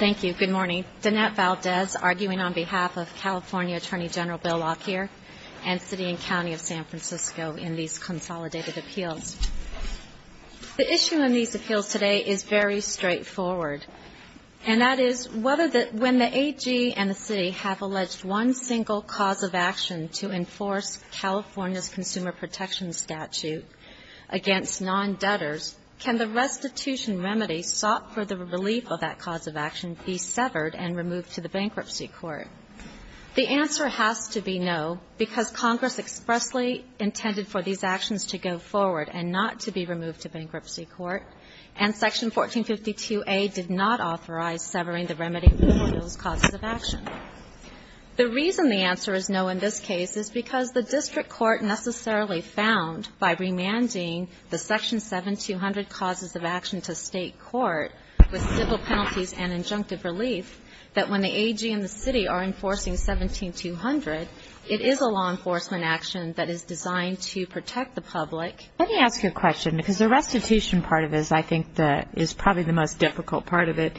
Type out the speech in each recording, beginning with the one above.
Thank you. Good morning. Danette Valdez, arguing on behalf of California Attorney General Bill Lockyer and City and County of San Francisco in these consolidated appeals. The issue in these appeals today is very straightforward. And that is, when the AG and the City have alleged one single cause of action to enforce California's Consumer Protection Statute against non-debtors, can the restitution remedy sought for the relief of that cause of action be severed and removed to the Bankruptcy Court? The answer has to be no, because Congress expressly intended for these actions to go forward and not to be removed to Bankruptcy Court, and Section 1452A did not authorize severing the remedy for those causes of action. The reason the answer is no in this case is because the District Court necessarily found, by remanding the Section 7200 causes of action to State Court with civil penalties and injunctive relief, that when the AG and the City are enforcing 17200, it is a law enforcement action that is designed to protect the public. Let me ask you a question, because the restitution part of this, I think, is probably the most difficult part of it.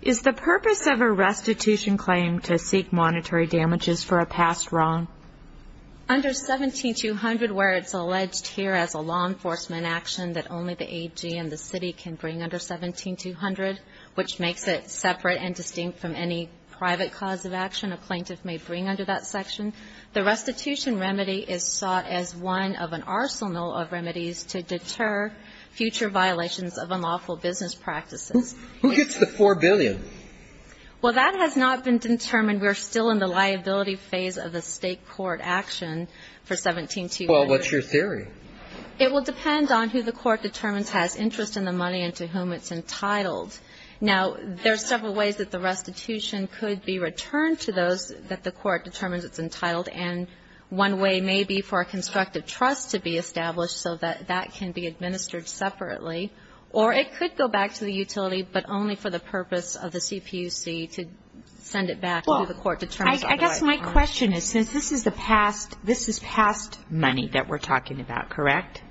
Is the purpose of a restitution claim to seek monetary damages for a past wrong? Under 17200, where it's alleged here as a law enforcement action that only the AG and the City can bring under 17200, which makes it separate and distinct from any private cause of action a plaintiff may bring under that section, the restitution remedy is sought as one of an arsenal of remedies to deter future violations of unlawful business practices. Who gets the $4 billion? Well, that has not been determined. We're still in the liability phase of the State Court action for 17200. Well, what's your theory? It will depend on who the Court determines has interest in the money and to whom it's entitled. Now, there are several ways that the restitution could be returned to those that the Court determines it's entitled, and one way may be for a constructive trust to be established so that that can be administered separately. Or it could go back to the utility, but only for the purpose of the CPUC to send it back to the Court determines otherwise. Well, I guess my question is, since this is the past, this is past money that we're talking about, correct?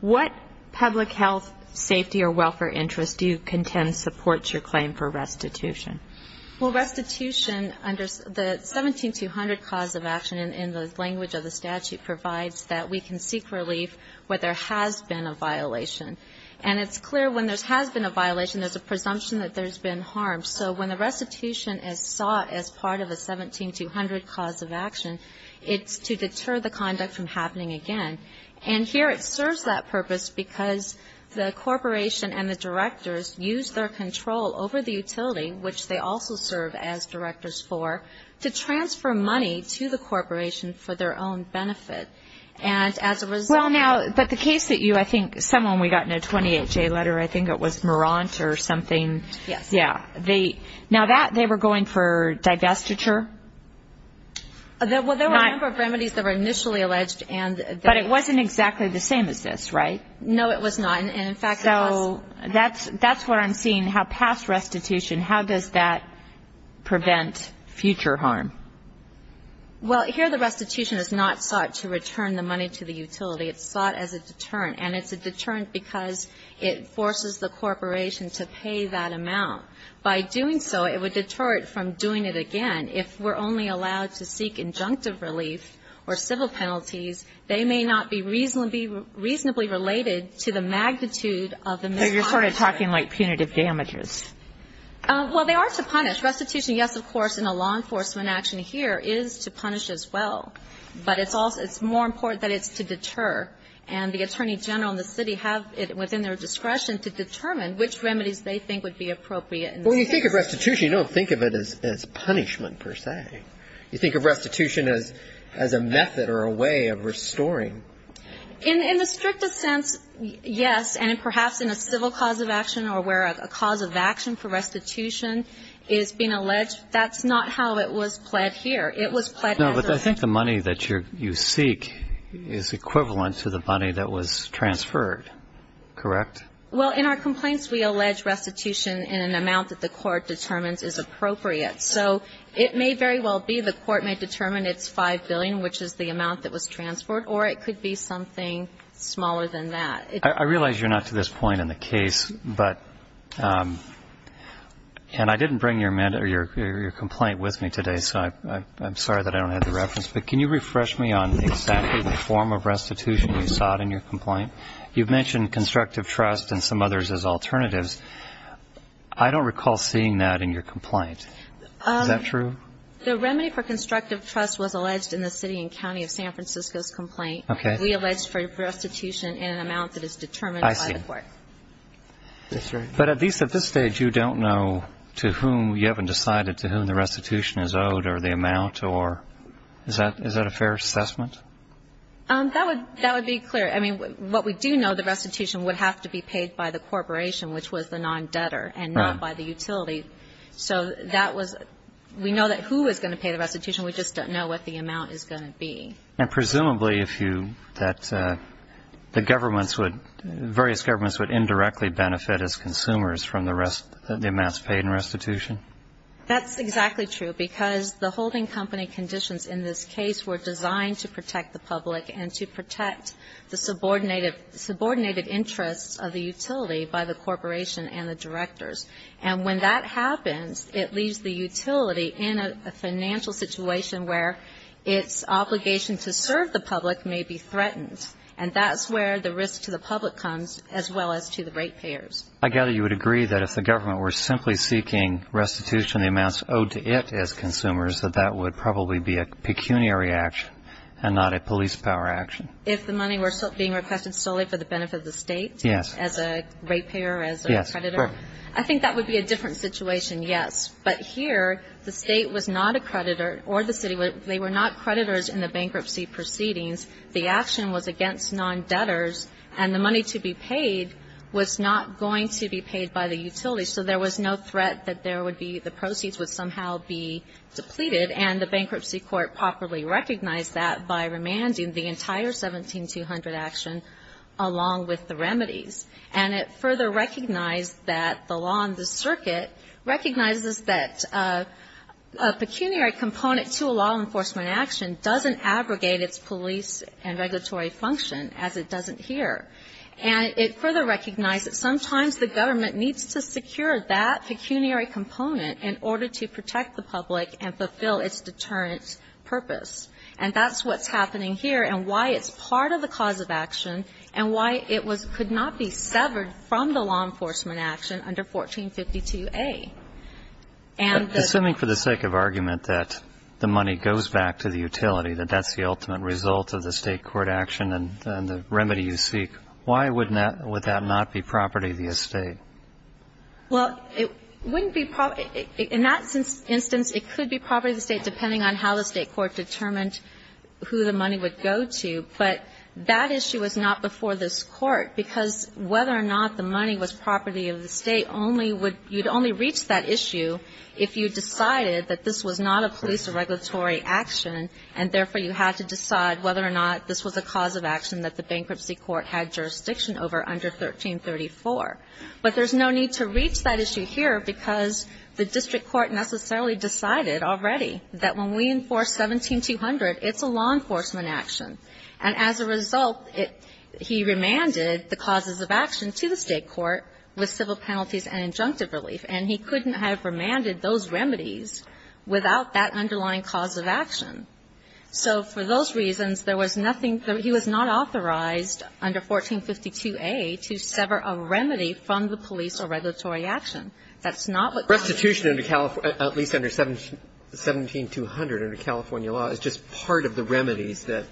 What public health, safety, or welfare interests do you contend supports your claim for restitution? Well, restitution under the 17200 cause of action in the language of the statute provides that we can seek relief where there has been a violation. And it's clear when there has been a violation, there's a presumption that there's been harm. So when the restitution is sought as part of a 17200 cause of action, it's to deter the conduct from happening again. And here it serves that purpose because the corporation and the directors use their control over the utility, which they also serve as directors for, to transfer money to the corporation for their own benefit. Well, now, but the case that you, I think, someone we got in a 28-J letter, I think it was Marant or something. Yes. Yeah. Now, they were going for divestiture? Well, there were a number of remedies that were initially alleged. But it wasn't exactly the same as this, right? No, it was not. So that's what I'm seeing, how past restitution, how does that prevent future harm? Well, here the restitution is not sought to return the money to the utility. It's sought as a deterrent. And it's a deterrent because it forces the corporation to pay that amount. By doing so, it would deter it from doing it again. If we're only allowed to seek injunctive relief or civil penalties, they may not be reasonably related to the magnitude of the misconduct. So you're sort of talking like punitive damages. Well, they are to punish. Restitution, yes, of course, in a law enforcement action here is to punish as well. But it's more important that it's to deter. And the attorney general and the city have it within their discretion to determine which remedies they think would be appropriate. But when you think of restitution, you don't think of it as punishment per se. You think of restitution as a method or a way of restoring. In the strictest sense, yes. And perhaps in a civil cause of action or where a cause of action for restitution is being alleged, that's not how it was pled here. It was pled as a ---- No, but I think the money that you seek is equivalent to the money that was transferred. Correct? Well, in our complaints, we allege restitution in an amount that the court determines is appropriate. So it may very well be the court may determine it's $5 billion, which is the amount that was transferred, or it could be something smaller than that. I realize you're not to this point in the case, but ---- and I didn't bring your complaint with me today, so I'm sorry that I don't have the reference. But can you refresh me on exactly the form of restitution you sought in your complaint? You've mentioned constructive trust and some others as alternatives. I don't recall seeing that in your complaint. Is that true? The remedy for constructive trust was alleged in the city and county of San Francisco's complaint. Okay. And we allege restitution in an amount that is determined by the court. I see. That's right. But at least at this stage, you don't know to whom you haven't decided to whom the restitution is owed or the amount or ---- is that a fair assessment? That would be clear. I mean, what we do know, the restitution would have to be paid by the corporation, which was the non-debtor, and not by the utility. So that was ---- we know that who is going to pay the restitution. We just don't know what the amount is going to be. And presumably, if you ---- that the governments would ---- various governments would indirectly benefit as consumers from the rest ---- the amounts paid in restitution? That's exactly true, because the holding company conditions in this case were designed to protect the public and to protect the subordinated interests of the utility by the corporation and the directors. And when that happens, it leaves the utility in a financial situation where its obligation to serve the public may be threatened. And that's where the risk to the public comes, as well as to the rate payers. I gather you would agree that if the government were simply seeking restitution, the amounts owed to it as consumers, that that would probably be a pecuniary action and not a police power action. If the money were being requested solely for the benefit of the State? Yes. As a rate payer, as a creditor? Yes, correct. I think that would be a different situation, yes. But here, the State was not a creditor or the City. They were not creditors in the bankruptcy proceedings. The action was against non-debtors, and the money to be paid was not going to be paid by the utility. So there was no threat that there would be ---- the proceeds would somehow be depleted, and the bankruptcy court properly recognized that by remanding the entire 17-200 action along with the remedies. And it further recognized that the law and the circuit recognizes that a pecuniary component to a law enforcement action doesn't abrogate its police and regulatory function as it doesn't here. And it further recognized that sometimes the government needs to secure that pecuniary component in order to protect the public and fulfill its deterrent purpose. And that's what's happening here and why it's part of the cause of action and why it was ---- could not be severed from the law enforcement action under 1452A. And the ---- But assuming for the sake of argument that the money goes back to the utility, that that's the ultimate result of the State court action and the remedy you seek, why would that not be property of the State? Well, it wouldn't be property ---- in that instance, it could be property of the State depending on how the State court determined who the money would go to. But that issue was not before this Court because whether or not the money was property of the State only would ---- you'd only reach that issue if you decided that this was not a police or regulatory action, and therefore you had to decide whether or not this was a cause of action that the bankruptcy court had jurisdiction over under 1334. But there's no need to reach that issue here because the district court necessarily had decided already that when we enforce 17200, it's a law enforcement action. And as a result, it ---- he remanded the causes of action to the State court with civil penalties and injunctive relief, and he couldn't have remanded those remedies without that underlying cause of action. So for those reasons, there was nothing ---- he was not authorized under 1452A to sever a remedy from the police or regulatory action. That's not what ---- But restitution under at least under 17200 under California law is just part of the remedies that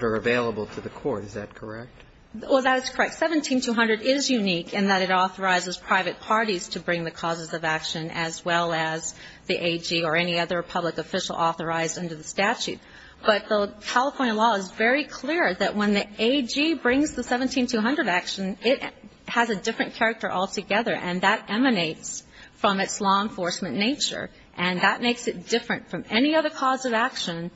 are available to the court, is that correct? Well, that is correct. 17200 is unique in that it authorizes private parties to bring the causes of action as well as the AG or any other public official authorized under the statute. But the California law is very clear that when the AG brings the 17200 action, it has a different character altogether, and that emanates from its law enforcement nature, and that makes it different from any other cause of action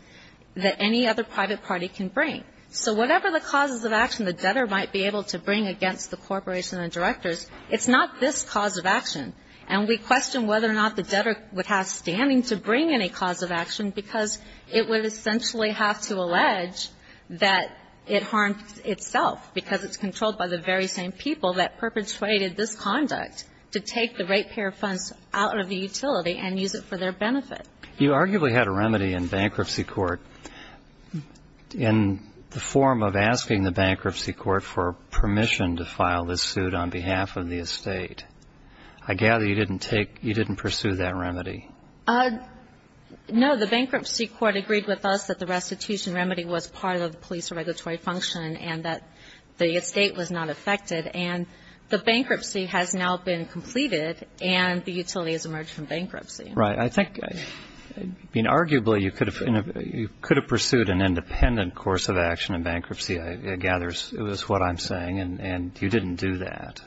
that any other private party can bring. So whatever the causes of action the debtor might be able to bring against the corporation and the directors, it's not this cause of action. And we question whether or not the debtor would have standing to bring any cause of action because it would essentially have to allege that it harmed itself because it's controlled by the very same people that perpetrated this conduct to take the right pair of funds out of the utility and use it for their benefit. You arguably had a remedy in bankruptcy court in the form of asking the bankruptcy court for permission to file this suit on behalf of the estate. I gather you didn't take ---- you didn't pursue that remedy. No. The bankruptcy court agreed with us that the restitution remedy was part of the police regulatory function and that the estate was not affected. And the bankruptcy has now been completed, and the utility has emerged from bankruptcy. Right. I think, I mean, arguably you could have pursued an independent course of action in bankruptcy, I gather is what I'm saying, and you didn't do that.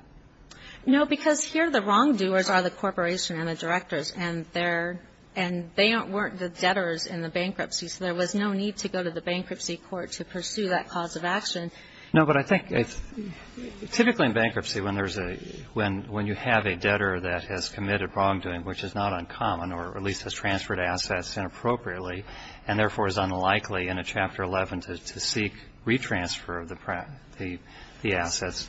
No, because here the wrongdoers are the corporation and the directors, and they weren't the debtors in the bankruptcy. So there was no need to go to the bankruptcy court to pursue that cause of action. No, but I think typically in bankruptcy when you have a debtor that has committed wrongdoing, which is not uncommon or at least has transferred assets inappropriately and therefore is unlikely in a Chapter 11 to seek retransfer of the assets,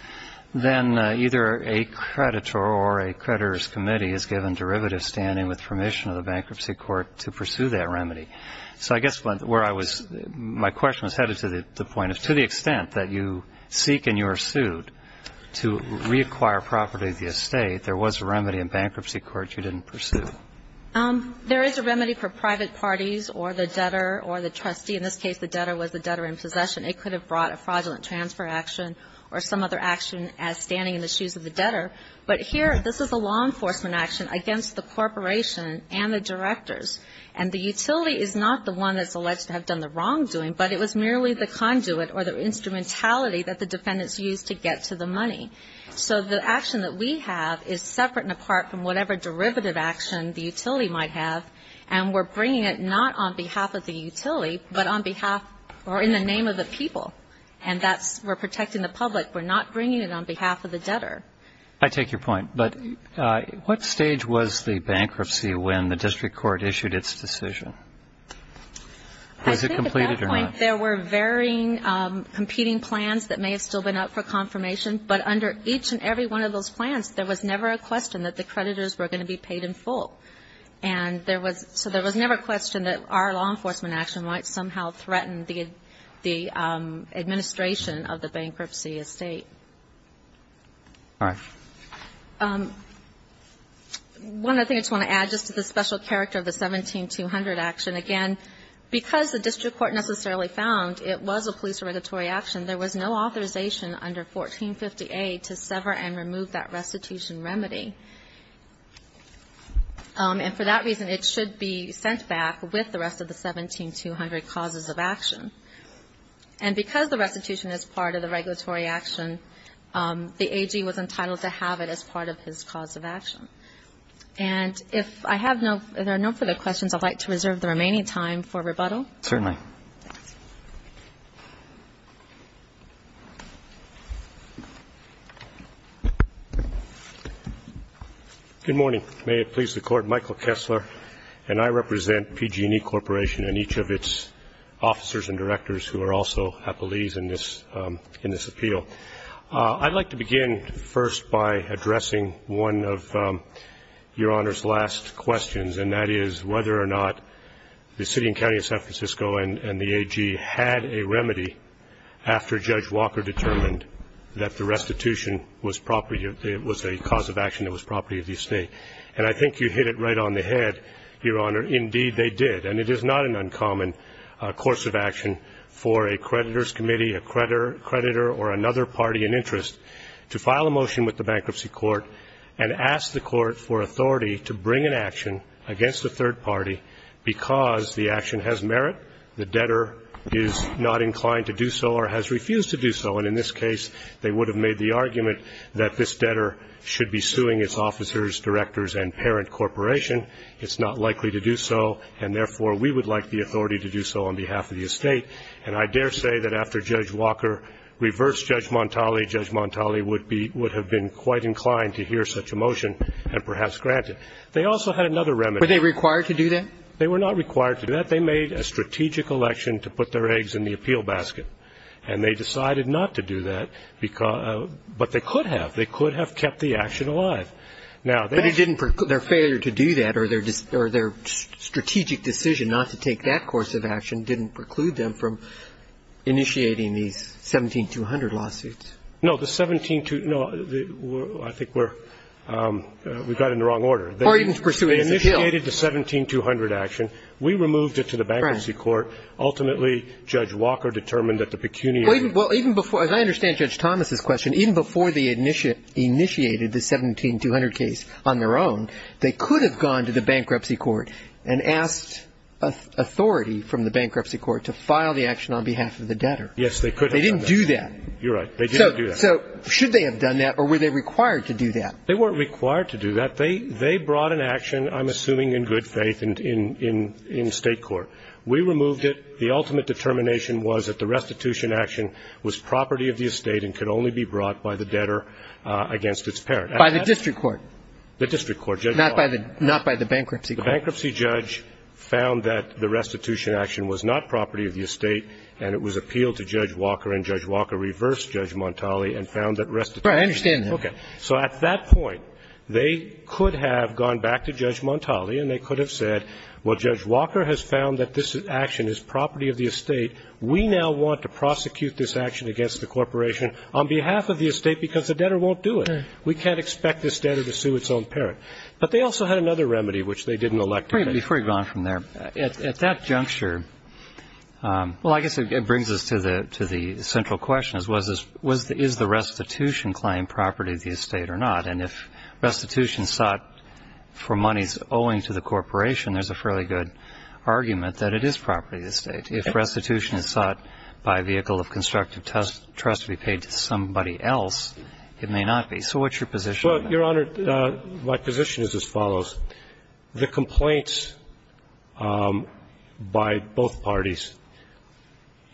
then either a creditor or a creditor's committee is given derivative standing with permission of the bankruptcy court to pursue that remedy. So I guess where I was, my question was headed to the point of to the extent that you seek and you are sued to reacquire property of the estate, there was a remedy in bankruptcy court you didn't pursue. There is a remedy for private parties or the debtor or the trustee. In this case, the debtor was the debtor in possession. It could have brought a fraudulent transfer action or some other action as standing in the shoes of the debtor. But here, this is a law enforcement action against the corporation and the directors. And the utility is not the one that's alleged to have done the wrongdoing, but it was merely the conduit or the instrumentality that the defendants used to get to the money. So the action that we have is separate and apart from whatever derivative action the utility might have. And we're bringing it not on behalf of the utility, but on behalf or in the name of the people. And that's we're protecting the public. We're not bringing it on behalf of the debtor. I take your point. But what stage was the bankruptcy when the district court issued its decision? Was it completed or not? There were varying competing plans that may have still been up for confirmation. But under each and every one of those plans, there was never a question that the creditors were going to be paid in full. And there was so there was never a question that our law enforcement action might somehow threaten the administration of the bankruptcy estate. All right. One other thing I just want to add just to the special character of the 17-200 action. Again, because the district court necessarily found it was a police or regulatory action, there was no authorization under 1450A to sever and remove that restitution remedy. And for that reason, it should be sent back with the rest of the 17-200 causes of action. And because the restitution is part of the regulatory action, the AG was entitled to have it as part of his cause of action. And if I have no further questions, I'd like to reserve the remaining time for rebuttal. Certainly. Good morning. May it please the Court. Michael Kessler, and I represent PG&E Corporation and each of its officers and directors who are also appellees in this appeal. I'd like to begin first by addressing one of Your Honor's last questions, and that is whether or not the city and county of San Francisco and the AG had a remedy after Judge Walker determined that the restitution was a cause of action that was property of the estate. And I think you hit it right on the head, Your Honor. Indeed, they did. And it is not an uncommon course of action for a creditor's committee, a creditor or another party in interest to file a motion with the bankruptcy court and ask the court for authority to bring an action against a third party because the action has merit, the debtor is not inclined to do so or has refused to do so. And in this case, they would have made the argument that this debtor should be suing its officers, directors, and parent corporation. It's not likely to do so, and therefore, we would like the authority to do so on behalf of the estate. And I dare say that after Judge Walker reversed Judge Montali, Judge Montali would be – would have been quite inclined to hear such a motion and perhaps grant it. They also had another remedy. Were they required to do that? They were not required to do that. They made a strategic election to put their eggs in the appeal basket. And they decided not to do that, but they could have. They could have kept the action alive. Now, that's the case. But it didn't – their failure to do that or their strategic decision not to take that course of action didn't preclude them from initiating these 17200 lawsuits. No. The 17200 – no, I think we're – we got it in the wrong order. Or even to pursue it as an appeal. They initiated the 17200 action. We removed it to the bankruptcy court. Ultimately, Judge Walker determined that the pecuniary – Well, even before – as I understand Judge Thomas's question, even before the initiated the 17200 case on their own, they could have gone to the bankruptcy court and asked authority from the bankruptcy court to file the action on behalf of the debtor. Yes, they could have done that. They didn't do that. You're right. They didn't do that. So should they have done that or were they required to do that? They weren't required to do that. They brought an action, I'm assuming in good faith, in state court. We removed it. The ultimate determination was that the restitution action was property of the estate and could only be brought by the debtor against its parent. By the district court. The district court. Judge Walker. Not by the bankruptcy court. The bankruptcy judge found that the restitution action was not property of the estate and it was appealed to Judge Walker, and Judge Walker reversed Judge Montali and found that restitution – Right. I understand that. Okay. So at that point, they could have gone back to Judge Montali and they could have said, well, Judge Walker has found that this action is property of the estate. We now want to prosecute this action against the corporation on behalf of the estate because the debtor won't do it. We can't expect this debtor to sue its own parent. But they also had another remedy, which they didn't elect to do. Before you go on from there, at that juncture – well, I guess it brings us to the central question, is the restitution claim property of the estate or not? And if restitution sought for monies owing to the corporation, there's a fairly good argument that it is property of the estate. If restitution is sought by a vehicle of constructive trust to be paid to somebody else, it may not be. So what's your position on that? Well, Your Honor, my position is as follows. The complaints by both parties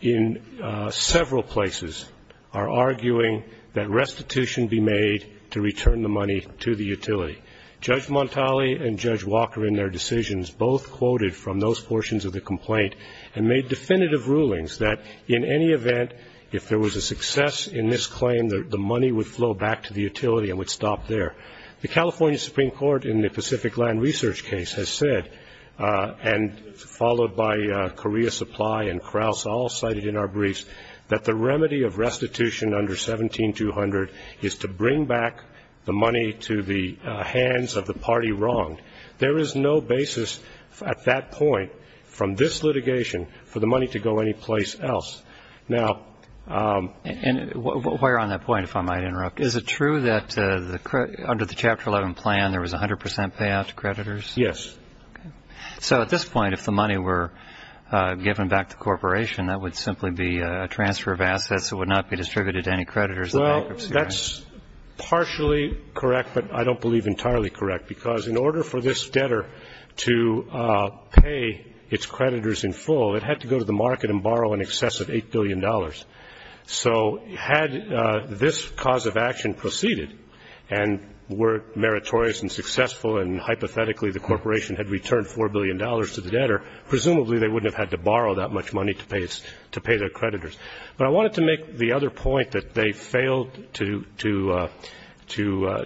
in several places are arguing that restitution be made to return the money to the utility. Judge Montali and Judge Walker in their decisions both quoted from those portions of the complaint and made definitive rulings that in any event, if there was a success in this claim, the money would flow back to the utility and would stop there. The California Supreme Court in the Pacific Land Research case has said, and followed by Korea Supply and Krauss all cited in our briefs, that the remedy of restitution under 17-200 is to bring back the money to the hands of the party wronged. There is no basis at that point from this litigation for the money to go anyplace else. Now And while you're on that point, if I might interrupt, is it true that under the Chapter 11 plan, there was 100 percent payout to creditors? Yes. So at this point, if the money were given back to the corporation, that would simply be a transfer of assets that would not be distributed to any creditors of bankruptcy, right? Well, that's partially correct, but I don't believe entirely correct. Because in order for this debtor to pay its creditors in full, it had to go to the market and borrow in excess of $8 billion. So had this cause of action proceeded, and were meritorious and successful, and hypothetically the corporation had returned $4 billion to the debtor, presumably they wouldn't have had to borrow that much money to pay its to pay their creditors. But I wanted to make the other point that they failed to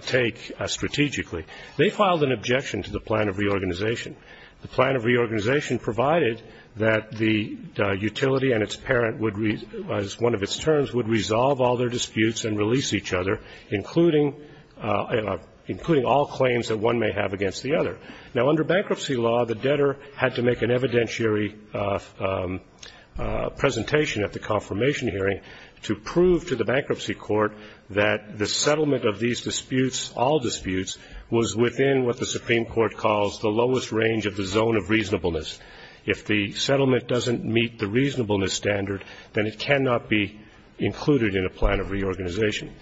take strategically. They filed an objection to the plan of reorganization. The plan of reorganization provided that the utility and its parent would, as one of its terms, would resolve all their disputes and release each other, including all claims that one may have against the other. Now, under bankruptcy law, the debtor had to make an evidentiary presentation at the confirmation hearing to prove to the bankruptcy court that the settlement of these disputes, all disputes, was within what the Supreme Court calls the lowest range of the zone of reasonableness. If the settlement doesn't meet the reasonableness standard, then it cannot be included in a plan of reorganization.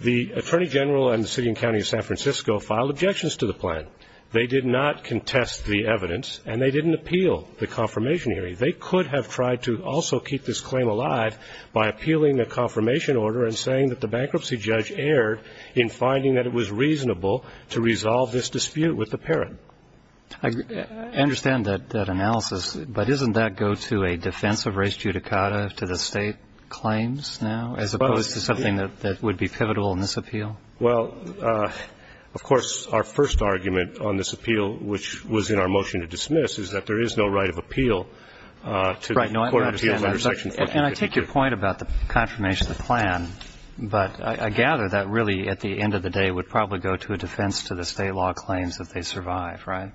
The Attorney General and the City and County of San Francisco filed objections to the plan. They did not contest the evidence, and they didn't appeal the confirmation hearing. They could have tried to also keep this claim alive by appealing a confirmation order and saying that the bankruptcy judge erred in finding that it was reasonable to resolve this dispute with the parent. I understand that analysis, but doesn't that go to a defense of race judicata to the State claims now, as opposed to something that would be pivotal in this appeal? Well, of course, our first argument on this appeal, which was in our motion to dismiss, is that there is no right of appeal to the Court of Appeals under Section 452. And I take your point about the confirmation of the plan, but I gather that really at the end of the day it would probably go to a defense to the State law claims if they survive, right?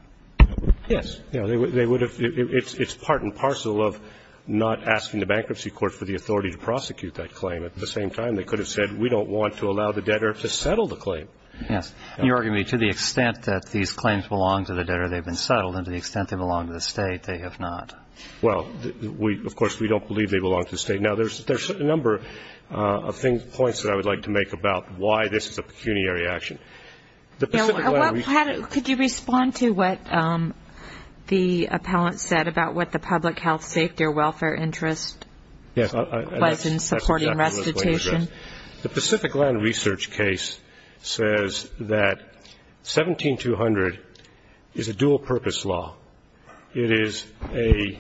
Yes. They would have. It's part and parcel of not asking the bankruptcy court for the authority to prosecute that claim. At the same time, they could have said we don't want to allow the debtor to settle the claim. Yes. You're arguing to the extent that these claims belong to the debtor, they've been settled, and to the extent they belong to the State, they have not. Well, of course, we don't believe they belong to the State. Now, there's a number of points that I would like to make about why this is a pecuniary action. Could you respond to what the appellant said about what the public health, safety, or welfare interest was in supporting recitation? The Pacific Land Research case says that 17200 is a dual-purpose law. It is a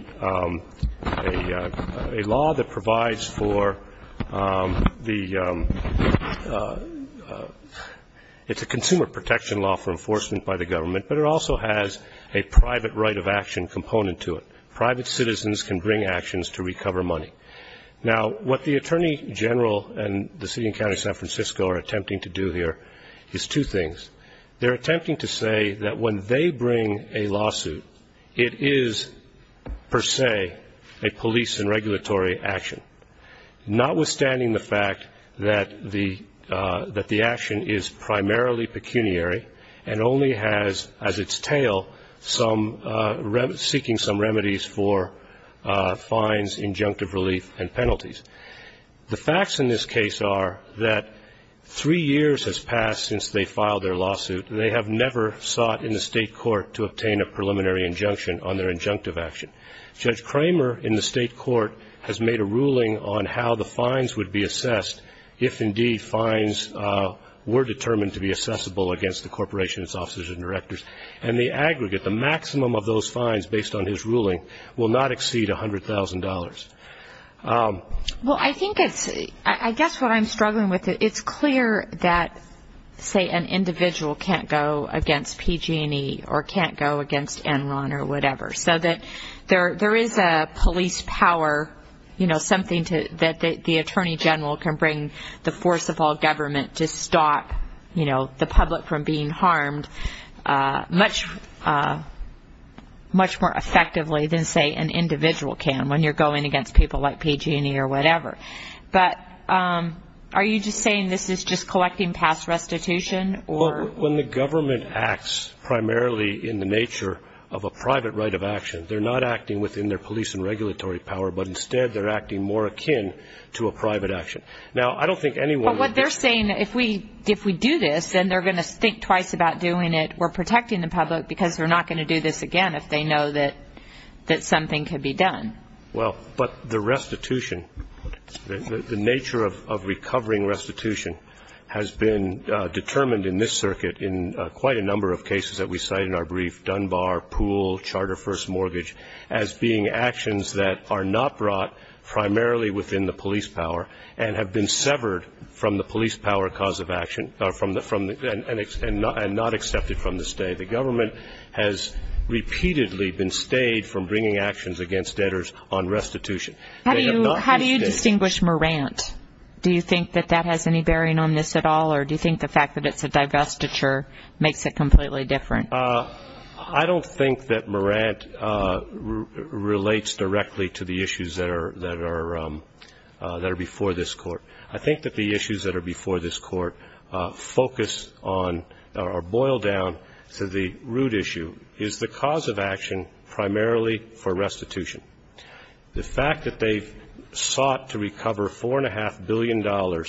law that provides for the ñ it's a consumer protection law for enforcement by the government, but it also has a private right of action component to it. Private citizens can bring actions to recover money. Now, what the Attorney General and the City and County of San Francisco are attempting to do here is two things. They're attempting to say that when they bring a lawsuit, it is per se a police and regulatory action, notwithstanding the fact that the action is primarily pecuniary and only has as its tail some ñ seeking some remedies for fines, injunctive relief, and penalties. The facts in this case are that three years has passed since they filed their lawsuit. They have never sought in the state court to obtain a preliminary injunction on their injunctive action. Judge Cramer in the state court has made a ruling on how the fines would be assessed if indeed fines were determined to be assessable against the corporations, officers, and directors, and the aggregate, the maximum of those fines based on his ruling, will not exceed $100,000. Well, I think it's ñ I guess what I'm struggling with, it's clear that, say, an individual can't go against PG&E or can't go against Enron or whatever, so that there is a police power, you know, something to ñ that the Attorney General can bring the force of all government to stop, you know, the public from being harmed much more effectively than, say, an individual can when you're going against people like PG&E or whatever. But are you just saying this is just collecting past restitution or ñ Well, when the government acts primarily in the nature of a private right of action, they're not acting within their police and regulatory power, but instead they're acting more akin to a private action. Now, I don't think anyone ñ Well, what they're saying, if we do this, then they're going to think twice about doing it. We're protecting the public because they're not going to do this again if they know that something can be done. Well, but the restitution, the nature of recovering restitution has been determined in this circuit in quite a number of cases that we cite in our brief, Dunbar, Poole, Charter First Mortgage, as being actions that are not brought primarily within the police power and have been severed from the police power cause of action and not accepted from the state. The government has repeatedly been stayed from bringing actions against debtors on restitution. How do you distinguish Morant? Do you think that that has any bearing on this at all, or do you think the fact that it's a divestiture makes it completely different? I don't think that Morant relates directly to the issues that are before this Court. I think that the issues that are before this Court focus on or boil down to the root issue is the cause of action primarily for restitution. The fact that they've sought to recover $4.5 billion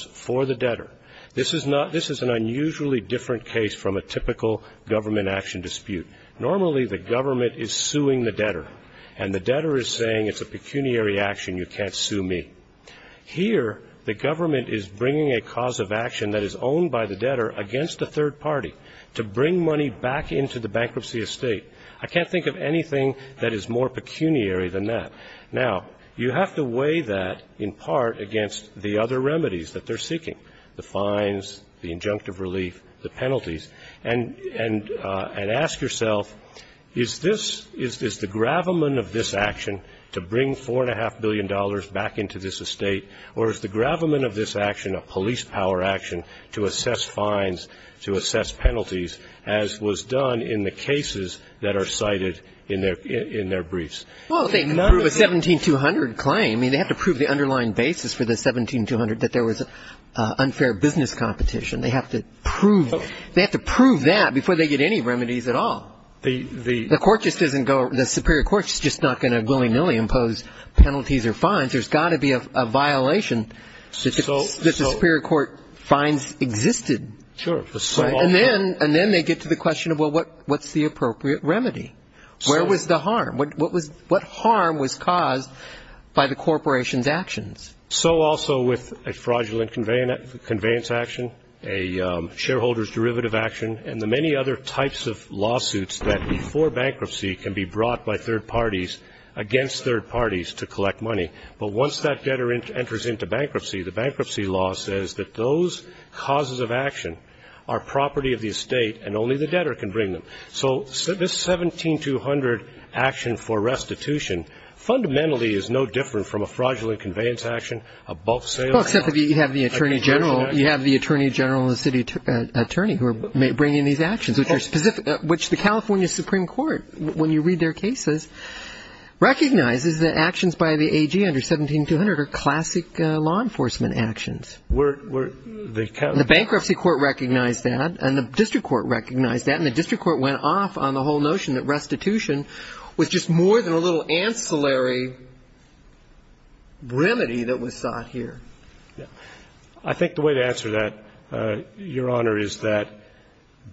for the debtor, this is an unusually different case from a typical government action dispute. Normally the government is suing the debtor, and the debtor is saying it's a pecuniary action, you can't sue me. Here the government is bringing a cause of action that is owned by the debtor against a third party to bring money back into the bankruptcy estate. I can't think of anything that is more pecuniary than that. Now, you have to weigh that in part against the other remedies that they're seeking. The fines, the injunctive relief, the penalties. And ask yourself, is this the gravamen of this action to bring $4.5 billion back into this estate, or is the gravamen of this action a police power action to assess fines, to assess penalties, as was done in the cases that are cited in their briefs? Well, they can prove a 17200 claim. I mean, they have to prove the underlying basis for the 17200, that there was unfair business competition. They have to prove that before they get any remedies at all. The court just doesn't go, the superior court is just not going to willy-nilly impose penalties or fines. There's got to be a violation that the superior court finds existed. Sure. And then they get to the question of, well, what's the appropriate remedy? Where was the harm? What harm was caused by the corporation's actions? So also with a fraudulent conveyance action, a shareholder's derivative action, and the many other types of lawsuits that before bankruptcy can be brought by third parties against third parties to collect money. But once that debtor enters into bankruptcy, the bankruptcy law says that those causes of action are property of the estate and only the debtor can bring them. So this 17200 action for restitution fundamentally is no different from a fraudulent conveyance action, a bulk sale. Well, except that you have the attorney general and the city attorney who are bringing these actions, which the California Supreme Court, when you read their cases, recognizes that actions by the AG under 17200 are classic law enforcement actions. The bankruptcy court recognized that, and the district court recognized that, and the district court went off on the whole notion that restitution was just more than a little ancillary remedy that was sought here. I think the way to answer that, Your Honor, is that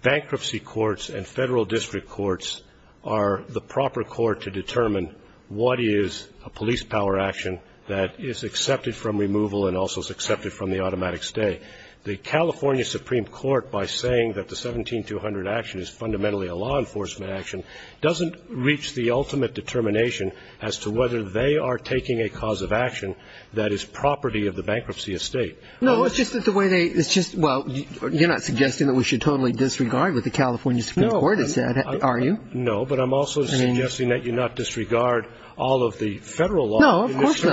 bankruptcy courts and Federal District Courts are the proper court to determine what is a police power action that is accepted from removal and also is accepted from the automatic stay. The California Supreme Court, by saying that the 17200 action is fundamentally a law enforcement action, doesn't reach the ultimate determination as to whether they are taking a cause of action that is property of the bankruptcy estate. No, it's just that the way they – it's just – well, you're not suggesting that we should totally disregard what the California Supreme Court has said, are you? No, but I'm also suggesting that you not disregard all of the Federal law. No, of course not. I'm not suggesting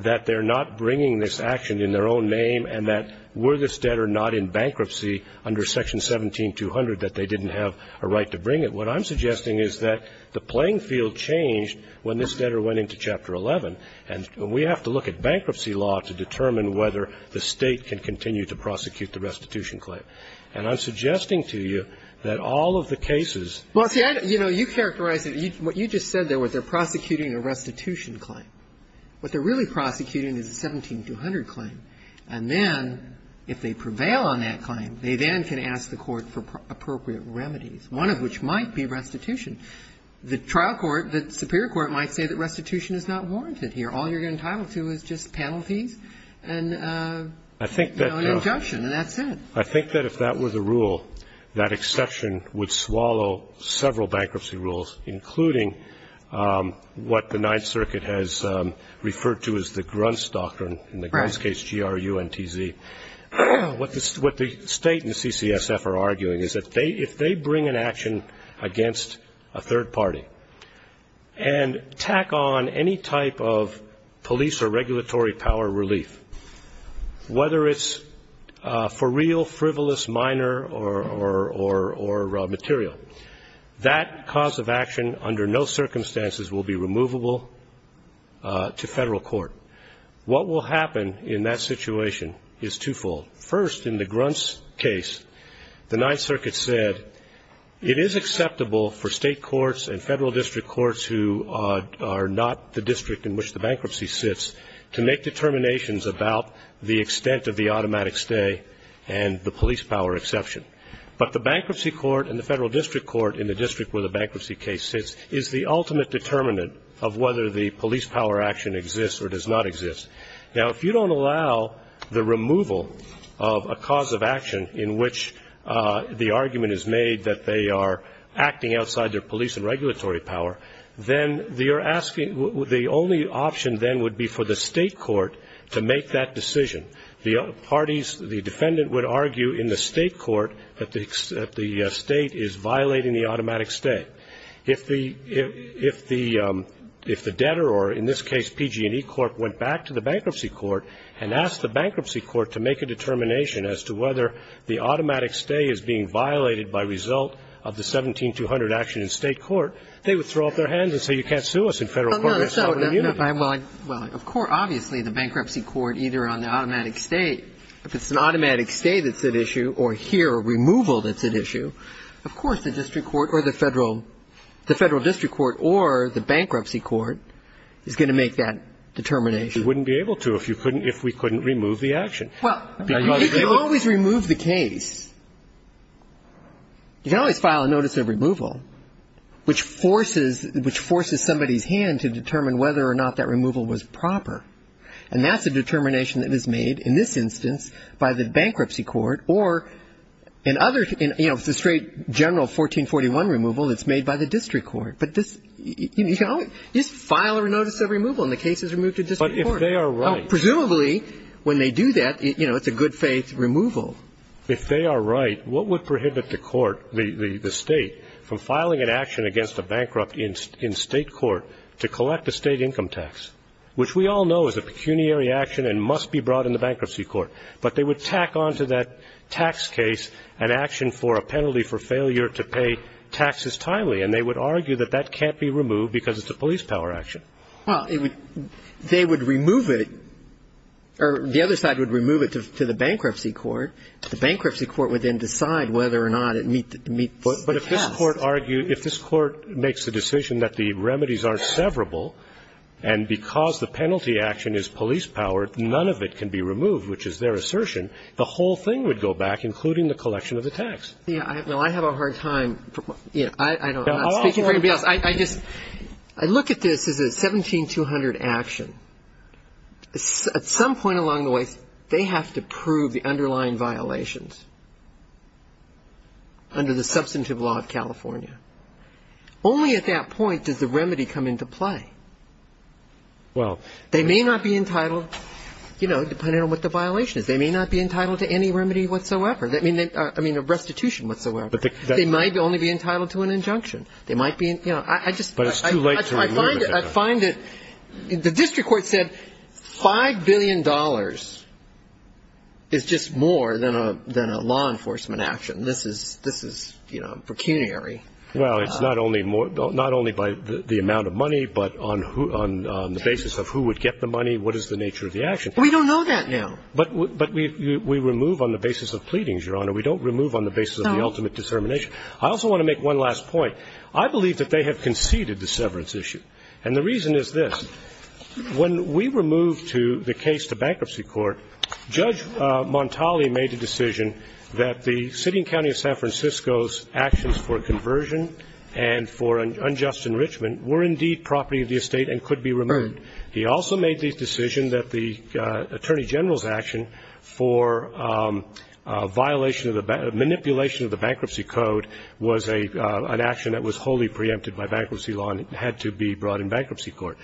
that they're not bringing this action in their own name and that were this debtor not in bankruptcy under Section 17200 that they didn't have a right to bring it. What I'm suggesting is that the playing field changed when this debtor went into Chapter 11, and we have to look at bankruptcy law to determine whether the State can continue to prosecute the restitution claim. And I'm suggesting to you that all of the cases – Well, see, I don't – you know, you characterize it – what you just said there was they're prosecuting a restitution claim. What they're really prosecuting is a 17200 claim. And then if they prevail on that claim, they then can ask the Court for appropriate remedies, one of which might be restitution. The trial court, the superior court might say that restitution is not warranted All you're entitled to is just panel fees and – You know, an injunction, and that's it. I think that if that were the rule, that exception would swallow several bankruptcy rules, including what the Ninth Circuit has referred to as the Gruntz Doctrine in the Gruntz case, G-R-U-N-T-Z. What the State and the CCSF are arguing is that if they bring an action against a third party and tack on any type of police or regulatory power relief, whether it's for real, frivolous, minor, or material, that cause of action under no circumstances will be removable to federal court. What will happen in that situation is twofold. First, in the Gruntz case, the Ninth Circuit said it is acceptable for state courts and federal district courts who are not the district in which the bankruptcy sits to make determinations about the extent of the automatic stay and the police power exception. But the bankruptcy court and the federal district court in the district where the bankruptcy case sits is the ultimate determinant of whether the police power action exists or does not exist. Now, if you don't allow the removal of a cause of action in which the argument is made that they are acting outside their police and regulatory power, then you're asking the only option then would be for the state court to make that decision. The parties, the defendant would argue in the state court that the state is violating the automatic stay. But if the debtor, or in this case PG&E Corp., went back to the bankruptcy court and asked the bankruptcy court to make a determination as to whether the automatic stay is being violated by result of the 17-200 action in state court, they would throw up their hands and say you can't sue us in federal court. Of course, obviously, the bankruptcy court, either on the automatic stay, if it's an automatic stay that's at issue or here a removal that's at issue, of course the district court or the federal district court or the bankruptcy court is going to make that determination. You wouldn't be able to if we couldn't remove the action. Well, you can always remove the case. You can always file a notice of removal, which forces somebody's hand to determine whether or not that removal was proper. And that's a determination that is made in this instance by the bankruptcy court or in other, you know, the straight general 1441 removal that's made by the district court. But this, you know, you just file a notice of removal and the case is removed to district court. But if they are right. Presumably, when they do that, you know, it's a good-faith removal. If they are right, what would prohibit the court, the state, from filing an action against a bankrupt in state court to collect a state income tax, which we all know is a pecuniary action and must be brought in the bankruptcy court. But they would tack on to that tax case an action for a penalty for failure to pay taxes timely. And they would argue that that can't be removed because it's a police power action. Well, they would remove it or the other side would remove it to the bankruptcy court. The bankruptcy court would then decide whether or not it meets the task. But if this court argues, if this court makes the decision that the remedies aren't severable and because the penalty action is police power, none of it can be And if they were right, if they were right in their assertion, the whole thing would go back, including the collection of the tax. Yeah. I have a hard time. I don't know. I'm not speaking for anybody else. I just look at this as a 17200 action. At some point along the way, they have to prove the underlying violations under the substantive law of California. Only at that point does the remedy come into play. They may not be entitled, depending on what the violation is, they may not be entitled to any remedy whatsoever. I mean, a restitution whatsoever. They might only be entitled to an injunction. But it's too late to remove it. I find that the district court said $5 billion is just more than a law enforcement action. This is, you know, pecuniary. Well, it's not only by the amount of money, but on the basis of who would get the money, what is the nature of the action. We don't know that now. But we remove on the basis of pleadings, Your Honor. We don't remove on the basis of the ultimate determination. I also want to make one last point. I believe that they have conceded the severance issue. And the reason is this. When we were moved to the case to bankruptcy court, Judge Montali made the decision that the city and county of San Francisco's actions for conversion and for unjust enrichment were indeed property of the estate and could be removed. He also made the decision that the attorney general's action for violation of the ---- manipulation of the bankruptcy code was an action that was wholly preempted by bankruptcy law and had to be brought in bankruptcy court.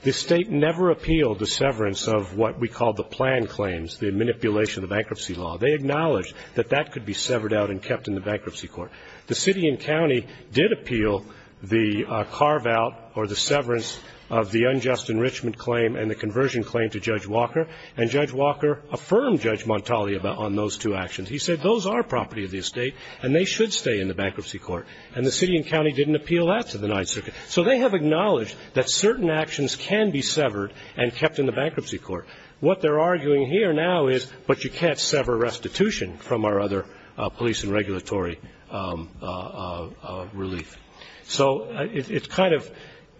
The State never appealed the severance of what we call the plan claims, the manipulation of the bankruptcy law. They acknowledged that that could be severed out and kept in the bankruptcy court. The city and county did appeal the carve-out or the severance of the unjust enrichment claim and the conversion claim to Judge Walker. And Judge Walker affirmed Judge Montali on those two actions. He said those are property of the estate and they should stay in the bankruptcy court. And the city and county didn't appeal that to the Ninth Circuit. So they have acknowledged that certain actions can be severed and kept in the bankruptcy court. What they're arguing here now is, but you can't sever restitution from our other police and regulatory relief. So it's kind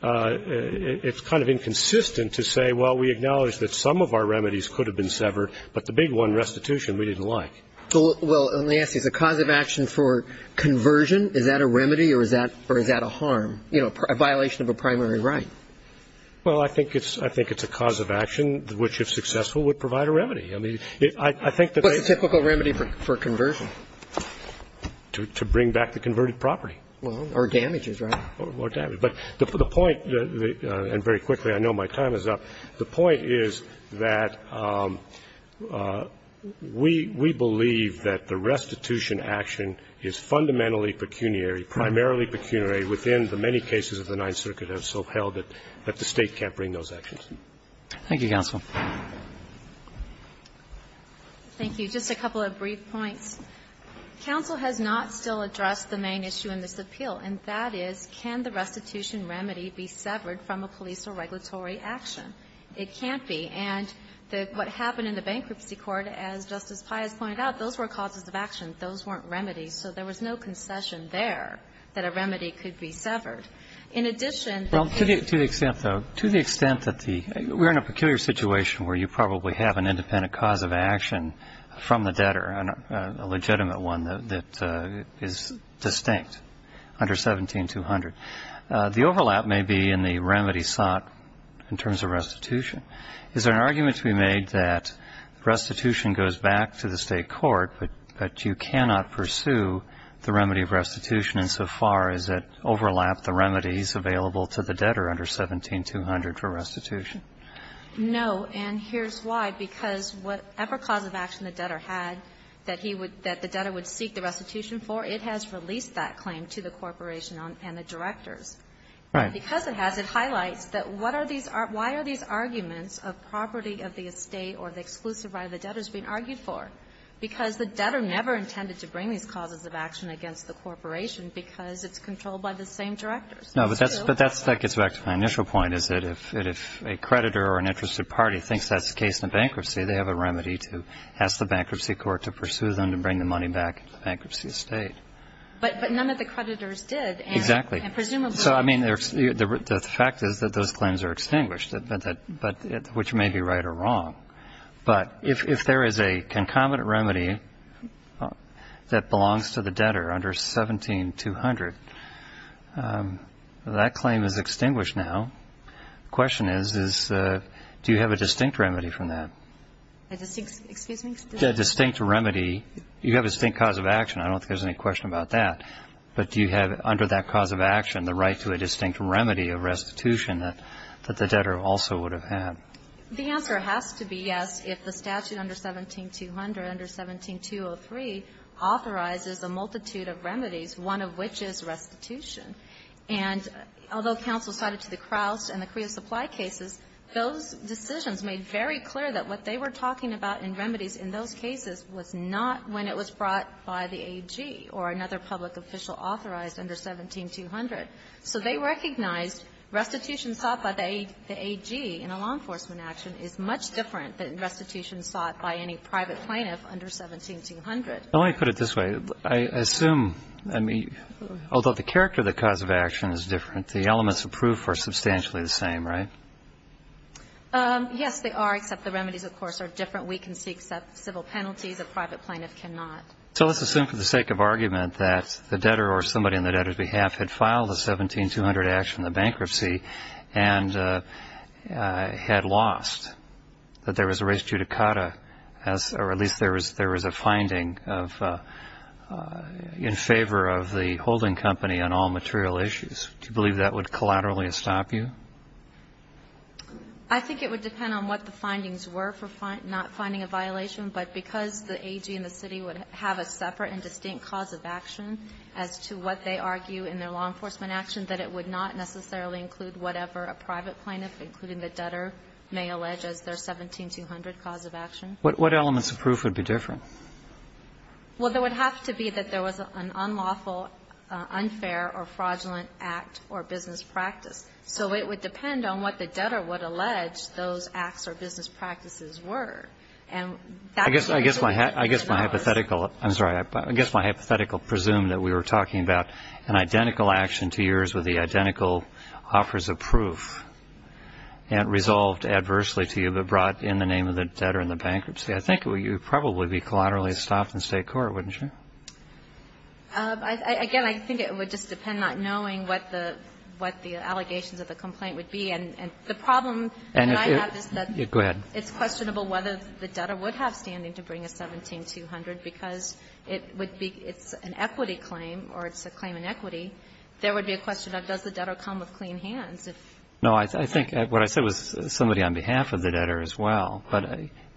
of inconsistent to say, well, we acknowledge that some of our remedies could have been severed, but the big one, restitution, we didn't like. Well, let me ask you, is the cause of action for conversion, is that a remedy or is that a harm, you know, a violation of a primary right? Well, I think it's a cause of action which, if successful, would provide a remedy. I mean, I think that they What's a typical remedy for conversion? To bring back the converted property. Well, or damages, right? Or damages. But the point, and very quickly, I know my time is up, the point is that we believe that the restitution action is fundamentally pecuniary, primarily pecuniary within the many cases of the Ninth Circuit have so held that the State can't bring those actions. Roberts. Thank you, counsel. Thank you. Just a couple of brief points. Counsel has not still addressed the main issue in this appeal, and that is, can the restitution remedy be severed from a police or regulatory action? It can't be. And what happened in the bankruptcy court, as Justice Payas pointed out, those were causes of action. Those weren't remedies. So there was no concession there that a remedy could be severed. In addition to the extent, though, to the extent that the we're in a peculiar situation where you probably have an independent cause of action from the debtor, a legitimate one that is distinct under 17-200. The overlap may be in the remedy sought in terms of restitution. Is there an argument to be made that restitution goes back to the State court, but you cannot pursue the remedy of restitution insofar as it overlapped the remedies available to the debtor under 17-200 for restitution? No, and here's why. Because whatever cause of action the debtor had that he would, that the debtor would seek the restitution for, it has released that claim to the corporation and the directors. Right. Because it has, it highlights that what are these, why are these arguments of property of the estate or the exclusive right of the debtors being argued for? Because the debtor never intended to bring these causes of action against the corporation because it's controlled by the same directors. No, but that's, but that's, that gets back to my initial point, is that if, if a creditor or an interested party thinks that's the case in a bankruptcy, they have a remedy to ask the bankruptcy court to pursue them to bring the money back into the bankruptcy estate. But, but none of the creditors did. Exactly. And presumably. So, I mean, the fact is that those claims are extinguished, but that, but, which may be right or wrong. But if, if there is a concomitant remedy that belongs to the debtor under 17-200, that claim is extinguished now. The question is, is do you have a distinct remedy from that? A distinct, excuse me? A distinct remedy, you have a distinct cause of action. I don't think there's any question about that. But do you have under that cause of action the right to a distinct remedy of restitution that, that the debtor also would have had? The answer has to be yes if the statute under 17-200, under 17-203, authorizes a multitude of remedies, one of which is restitution. And although counsel cited to the Crouse and the Creosupply cases, those decisions made very clear that what they were talking about in remedies in those cases was not when it was brought by the AG or another public official authorized under 17-200. So they recognized restitution sought by the AG in a law enforcement action is much different than restitution sought by any private plaintiff under 17-200. Now, let me put it this way. I assume, I mean, although the character of the cause of action is different, the elements of proof are substantially the same, right? Yes, they are, except the remedies, of course, are different. We can seek civil penalties. A private plaintiff cannot. So let's assume for the sake of argument that the debtor or somebody on the debtor's behalf had filed a 17-200 action in the bankruptcy and had lost, that there was a res judicata as, or at least there was a finding of, in favor of the holding company on all material issues. Do you believe that would collaterally stop you? I think it would depend on what the findings were for not finding a violation. But because the AG and the city would have a separate and distinct cause of action as to what they argue in their law enforcement action, that it would not necessarily include whatever a private plaintiff, including the debtor, may allege as their 17-200 cause of action. What elements of proof would be different? Well, there would have to be that there was an unlawful, unfair, or fraudulent act or business practice. So it would depend on what the debtor would allege those acts or business practices were. And that would be a difference. I guess my hypothetical, I'm sorry, I guess my hypothetical presumed that we were talking about an identical action to yours with the identical offers of proof and resolved adversely to you, but brought in the name of the debtor in the bankruptcy. I think you would probably be collaterally stopped in state court, wouldn't you? Again, I think it would just depend on not knowing what the allegations of the complaint would be. And the problem that I have is that it's questionable whether the debtor would have the outstanding to bring a 17-200, because it would be an equity claim or it's a claim in equity. There would be a question of does the debtor come with clean hands. No, I think what I said was somebody on behalf of the debtor as well. But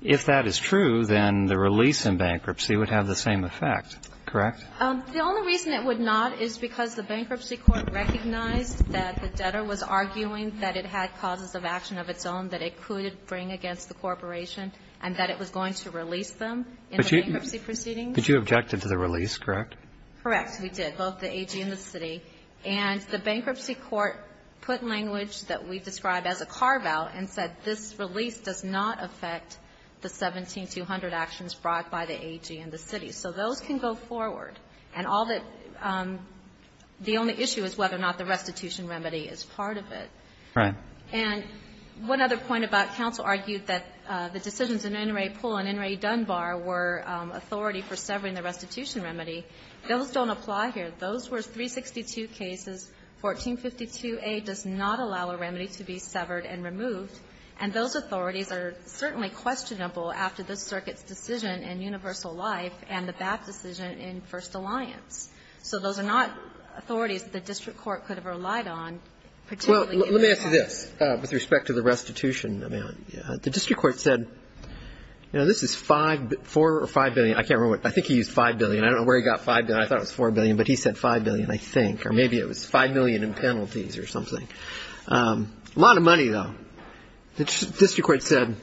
if that is true, then the release in bankruptcy would have the same effect. Correct? The only reason it would not is because the bankruptcy court recognized that the debtor was arguing that it had causes of action of its own that it could bring against the corporation and that it was going to release them in the bankruptcy proceedings. But you objected to the release, correct? Correct. We did, both the AG and the city. And the bankruptcy court put language that we described as a carve-out and said this release does not affect the 17-200 actions brought by the AG and the city. So those can go forward. And all that the only issue is whether or not the restitution remedy is part of it. Right. And one other point about counsel argued that the decisions in Inouye Pool and Inouye Dunbar were authority for severing the restitution remedy. Those don't apply here. Those were 362 cases. 1452a does not allow a remedy to be severed and removed. And those authorities are certainly questionable after this circuit's decision in universal life and the BAP decision in First Alliance. So those are not authorities the district court could have relied on, particularly in this case. Yes. With respect to the restitution, the district court said, you know, this is $4 or $5 billion. I can't remember. I think he used $5 billion. I don't know where he got $5 billion. I thought it was $4 billion. But he said $5 billion, I think. Or maybe it was $5 million in penalties or something. A lot of money, though. The district court said,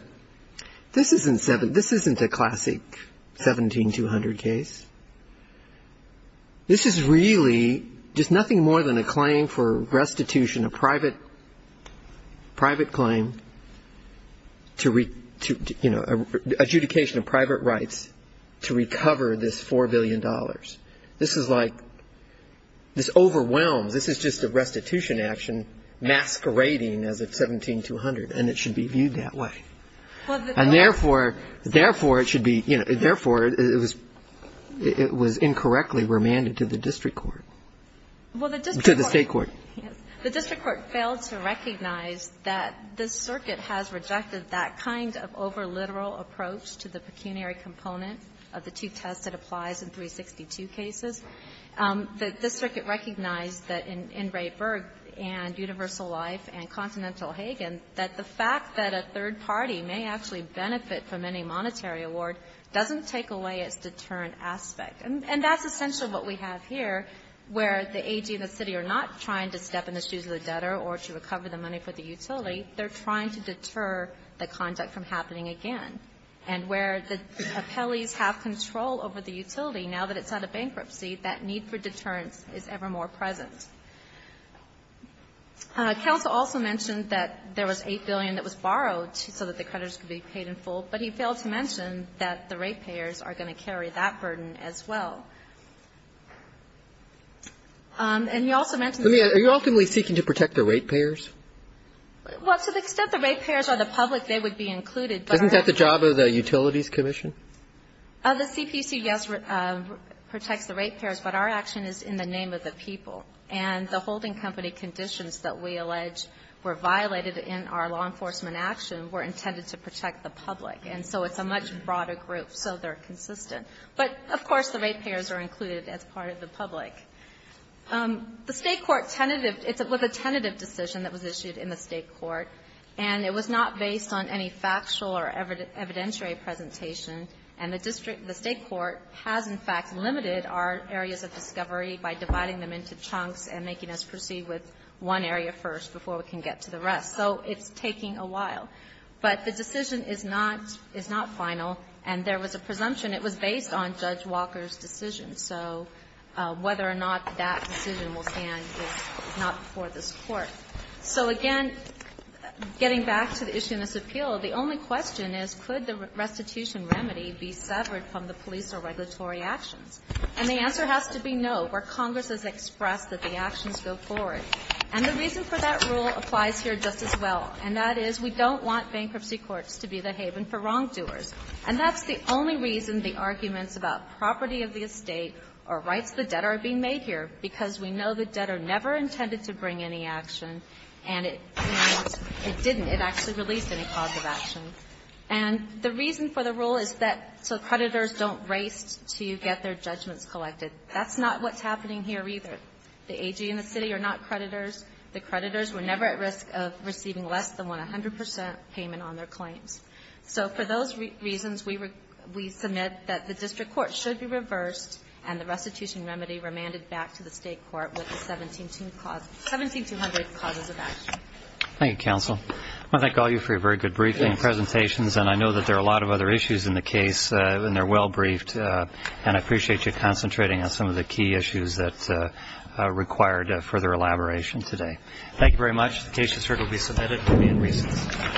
this isn't a classic 17-200 case. This is really just nothing more than a claim for restitution, a private claim to, you know, adjudication of private rights to recover this $4 billion. This is like this overwhelms. This is just a restitution action masquerading as a 17-200, and it should be viewed that way. And therefore, it should be, you know, therefore, it was incorrectly remanded to the district court. To the state court. The district court failed to recognize that this circuit has rejected that kind of over-literal approach to the pecuniary component of the two tests that applies in 362 cases. The district recognized that in Ray Berg and Universal Life and Continental Hagen, that the fact that a third party may actually benefit from any monetary award doesn't take away its deterrent aspect. And that's essentially what we have here, where the AG and the city are not trying to step in the shoes of the debtor or to recover the money for the utility. They're trying to deter the conduct from happening again. And where the appellees have control over the utility, now that it's out of bankruptcy, that need for deterrence is ever more present. Counsel also mentioned that there was $8 billion that was borrowed so that the creditors could be paid in full, but he failed to mention that the ratepayers are going to carry that burden as well. And he also mentioned that the ratepayers are the public they would be included. Doesn't that the job of the Utilities Commission? The CPC, yes, protects the ratepayers, but our action is in the name of the people. And the holding company conditions that we allege were violated in our law enforcement action were intended to protect the public. And so it's a much broader group. So they're consistent. But, of course, the ratepayers are included as part of the public. The State court tentative – it's a tentative decision that was issued in the State court, and it was not based on any factual or evidentiary presentation. And the district – the State court has, in fact, limited our areas of discovery by dividing them into chunks and making us proceed with one area first before we can get to the rest. So it's taking a while. But the decision is not – is not final, and there was a presumption. It was based on Judge Walker's decision. So whether or not that decision will stand is not before this Court. So, again, getting back to the issue in this appeal, the only question is, could the restitution remedy be severed from the police or regulatory actions? And the answer has to be no, where Congress has expressed that the actions go forward. And the reason for that rule applies here just as well, and that is we don't want bankruptcy courts to be the haven for wrongdoers. And that's the only reason the arguments about property of the estate or rights of the debtor are being made here, because we know the debtor never intended to bring any action, and it didn't. It actually released any cause of action. And the reason for the rule is that so creditors don't race to get their judgments collected. That's not what's happening here either. The AG and the city are not creditors. The creditors were never at risk of receiving less than 100 percent payment on their claims. So for those reasons, we submit that the district court should be reversed and the restitution remedy remanded back to the state court with the 17200 causes of action. Thank you, counsel. I want to thank all of you for your very good briefing and presentations, and I know that there are a lot of other issues in the case, and they're well briefed. And I appreciate you concentrating on some of the key issues that required further elaboration today. Thank you very much. The case is heard and will be submitted to me in recess. Thank you. Thank you. Thank you.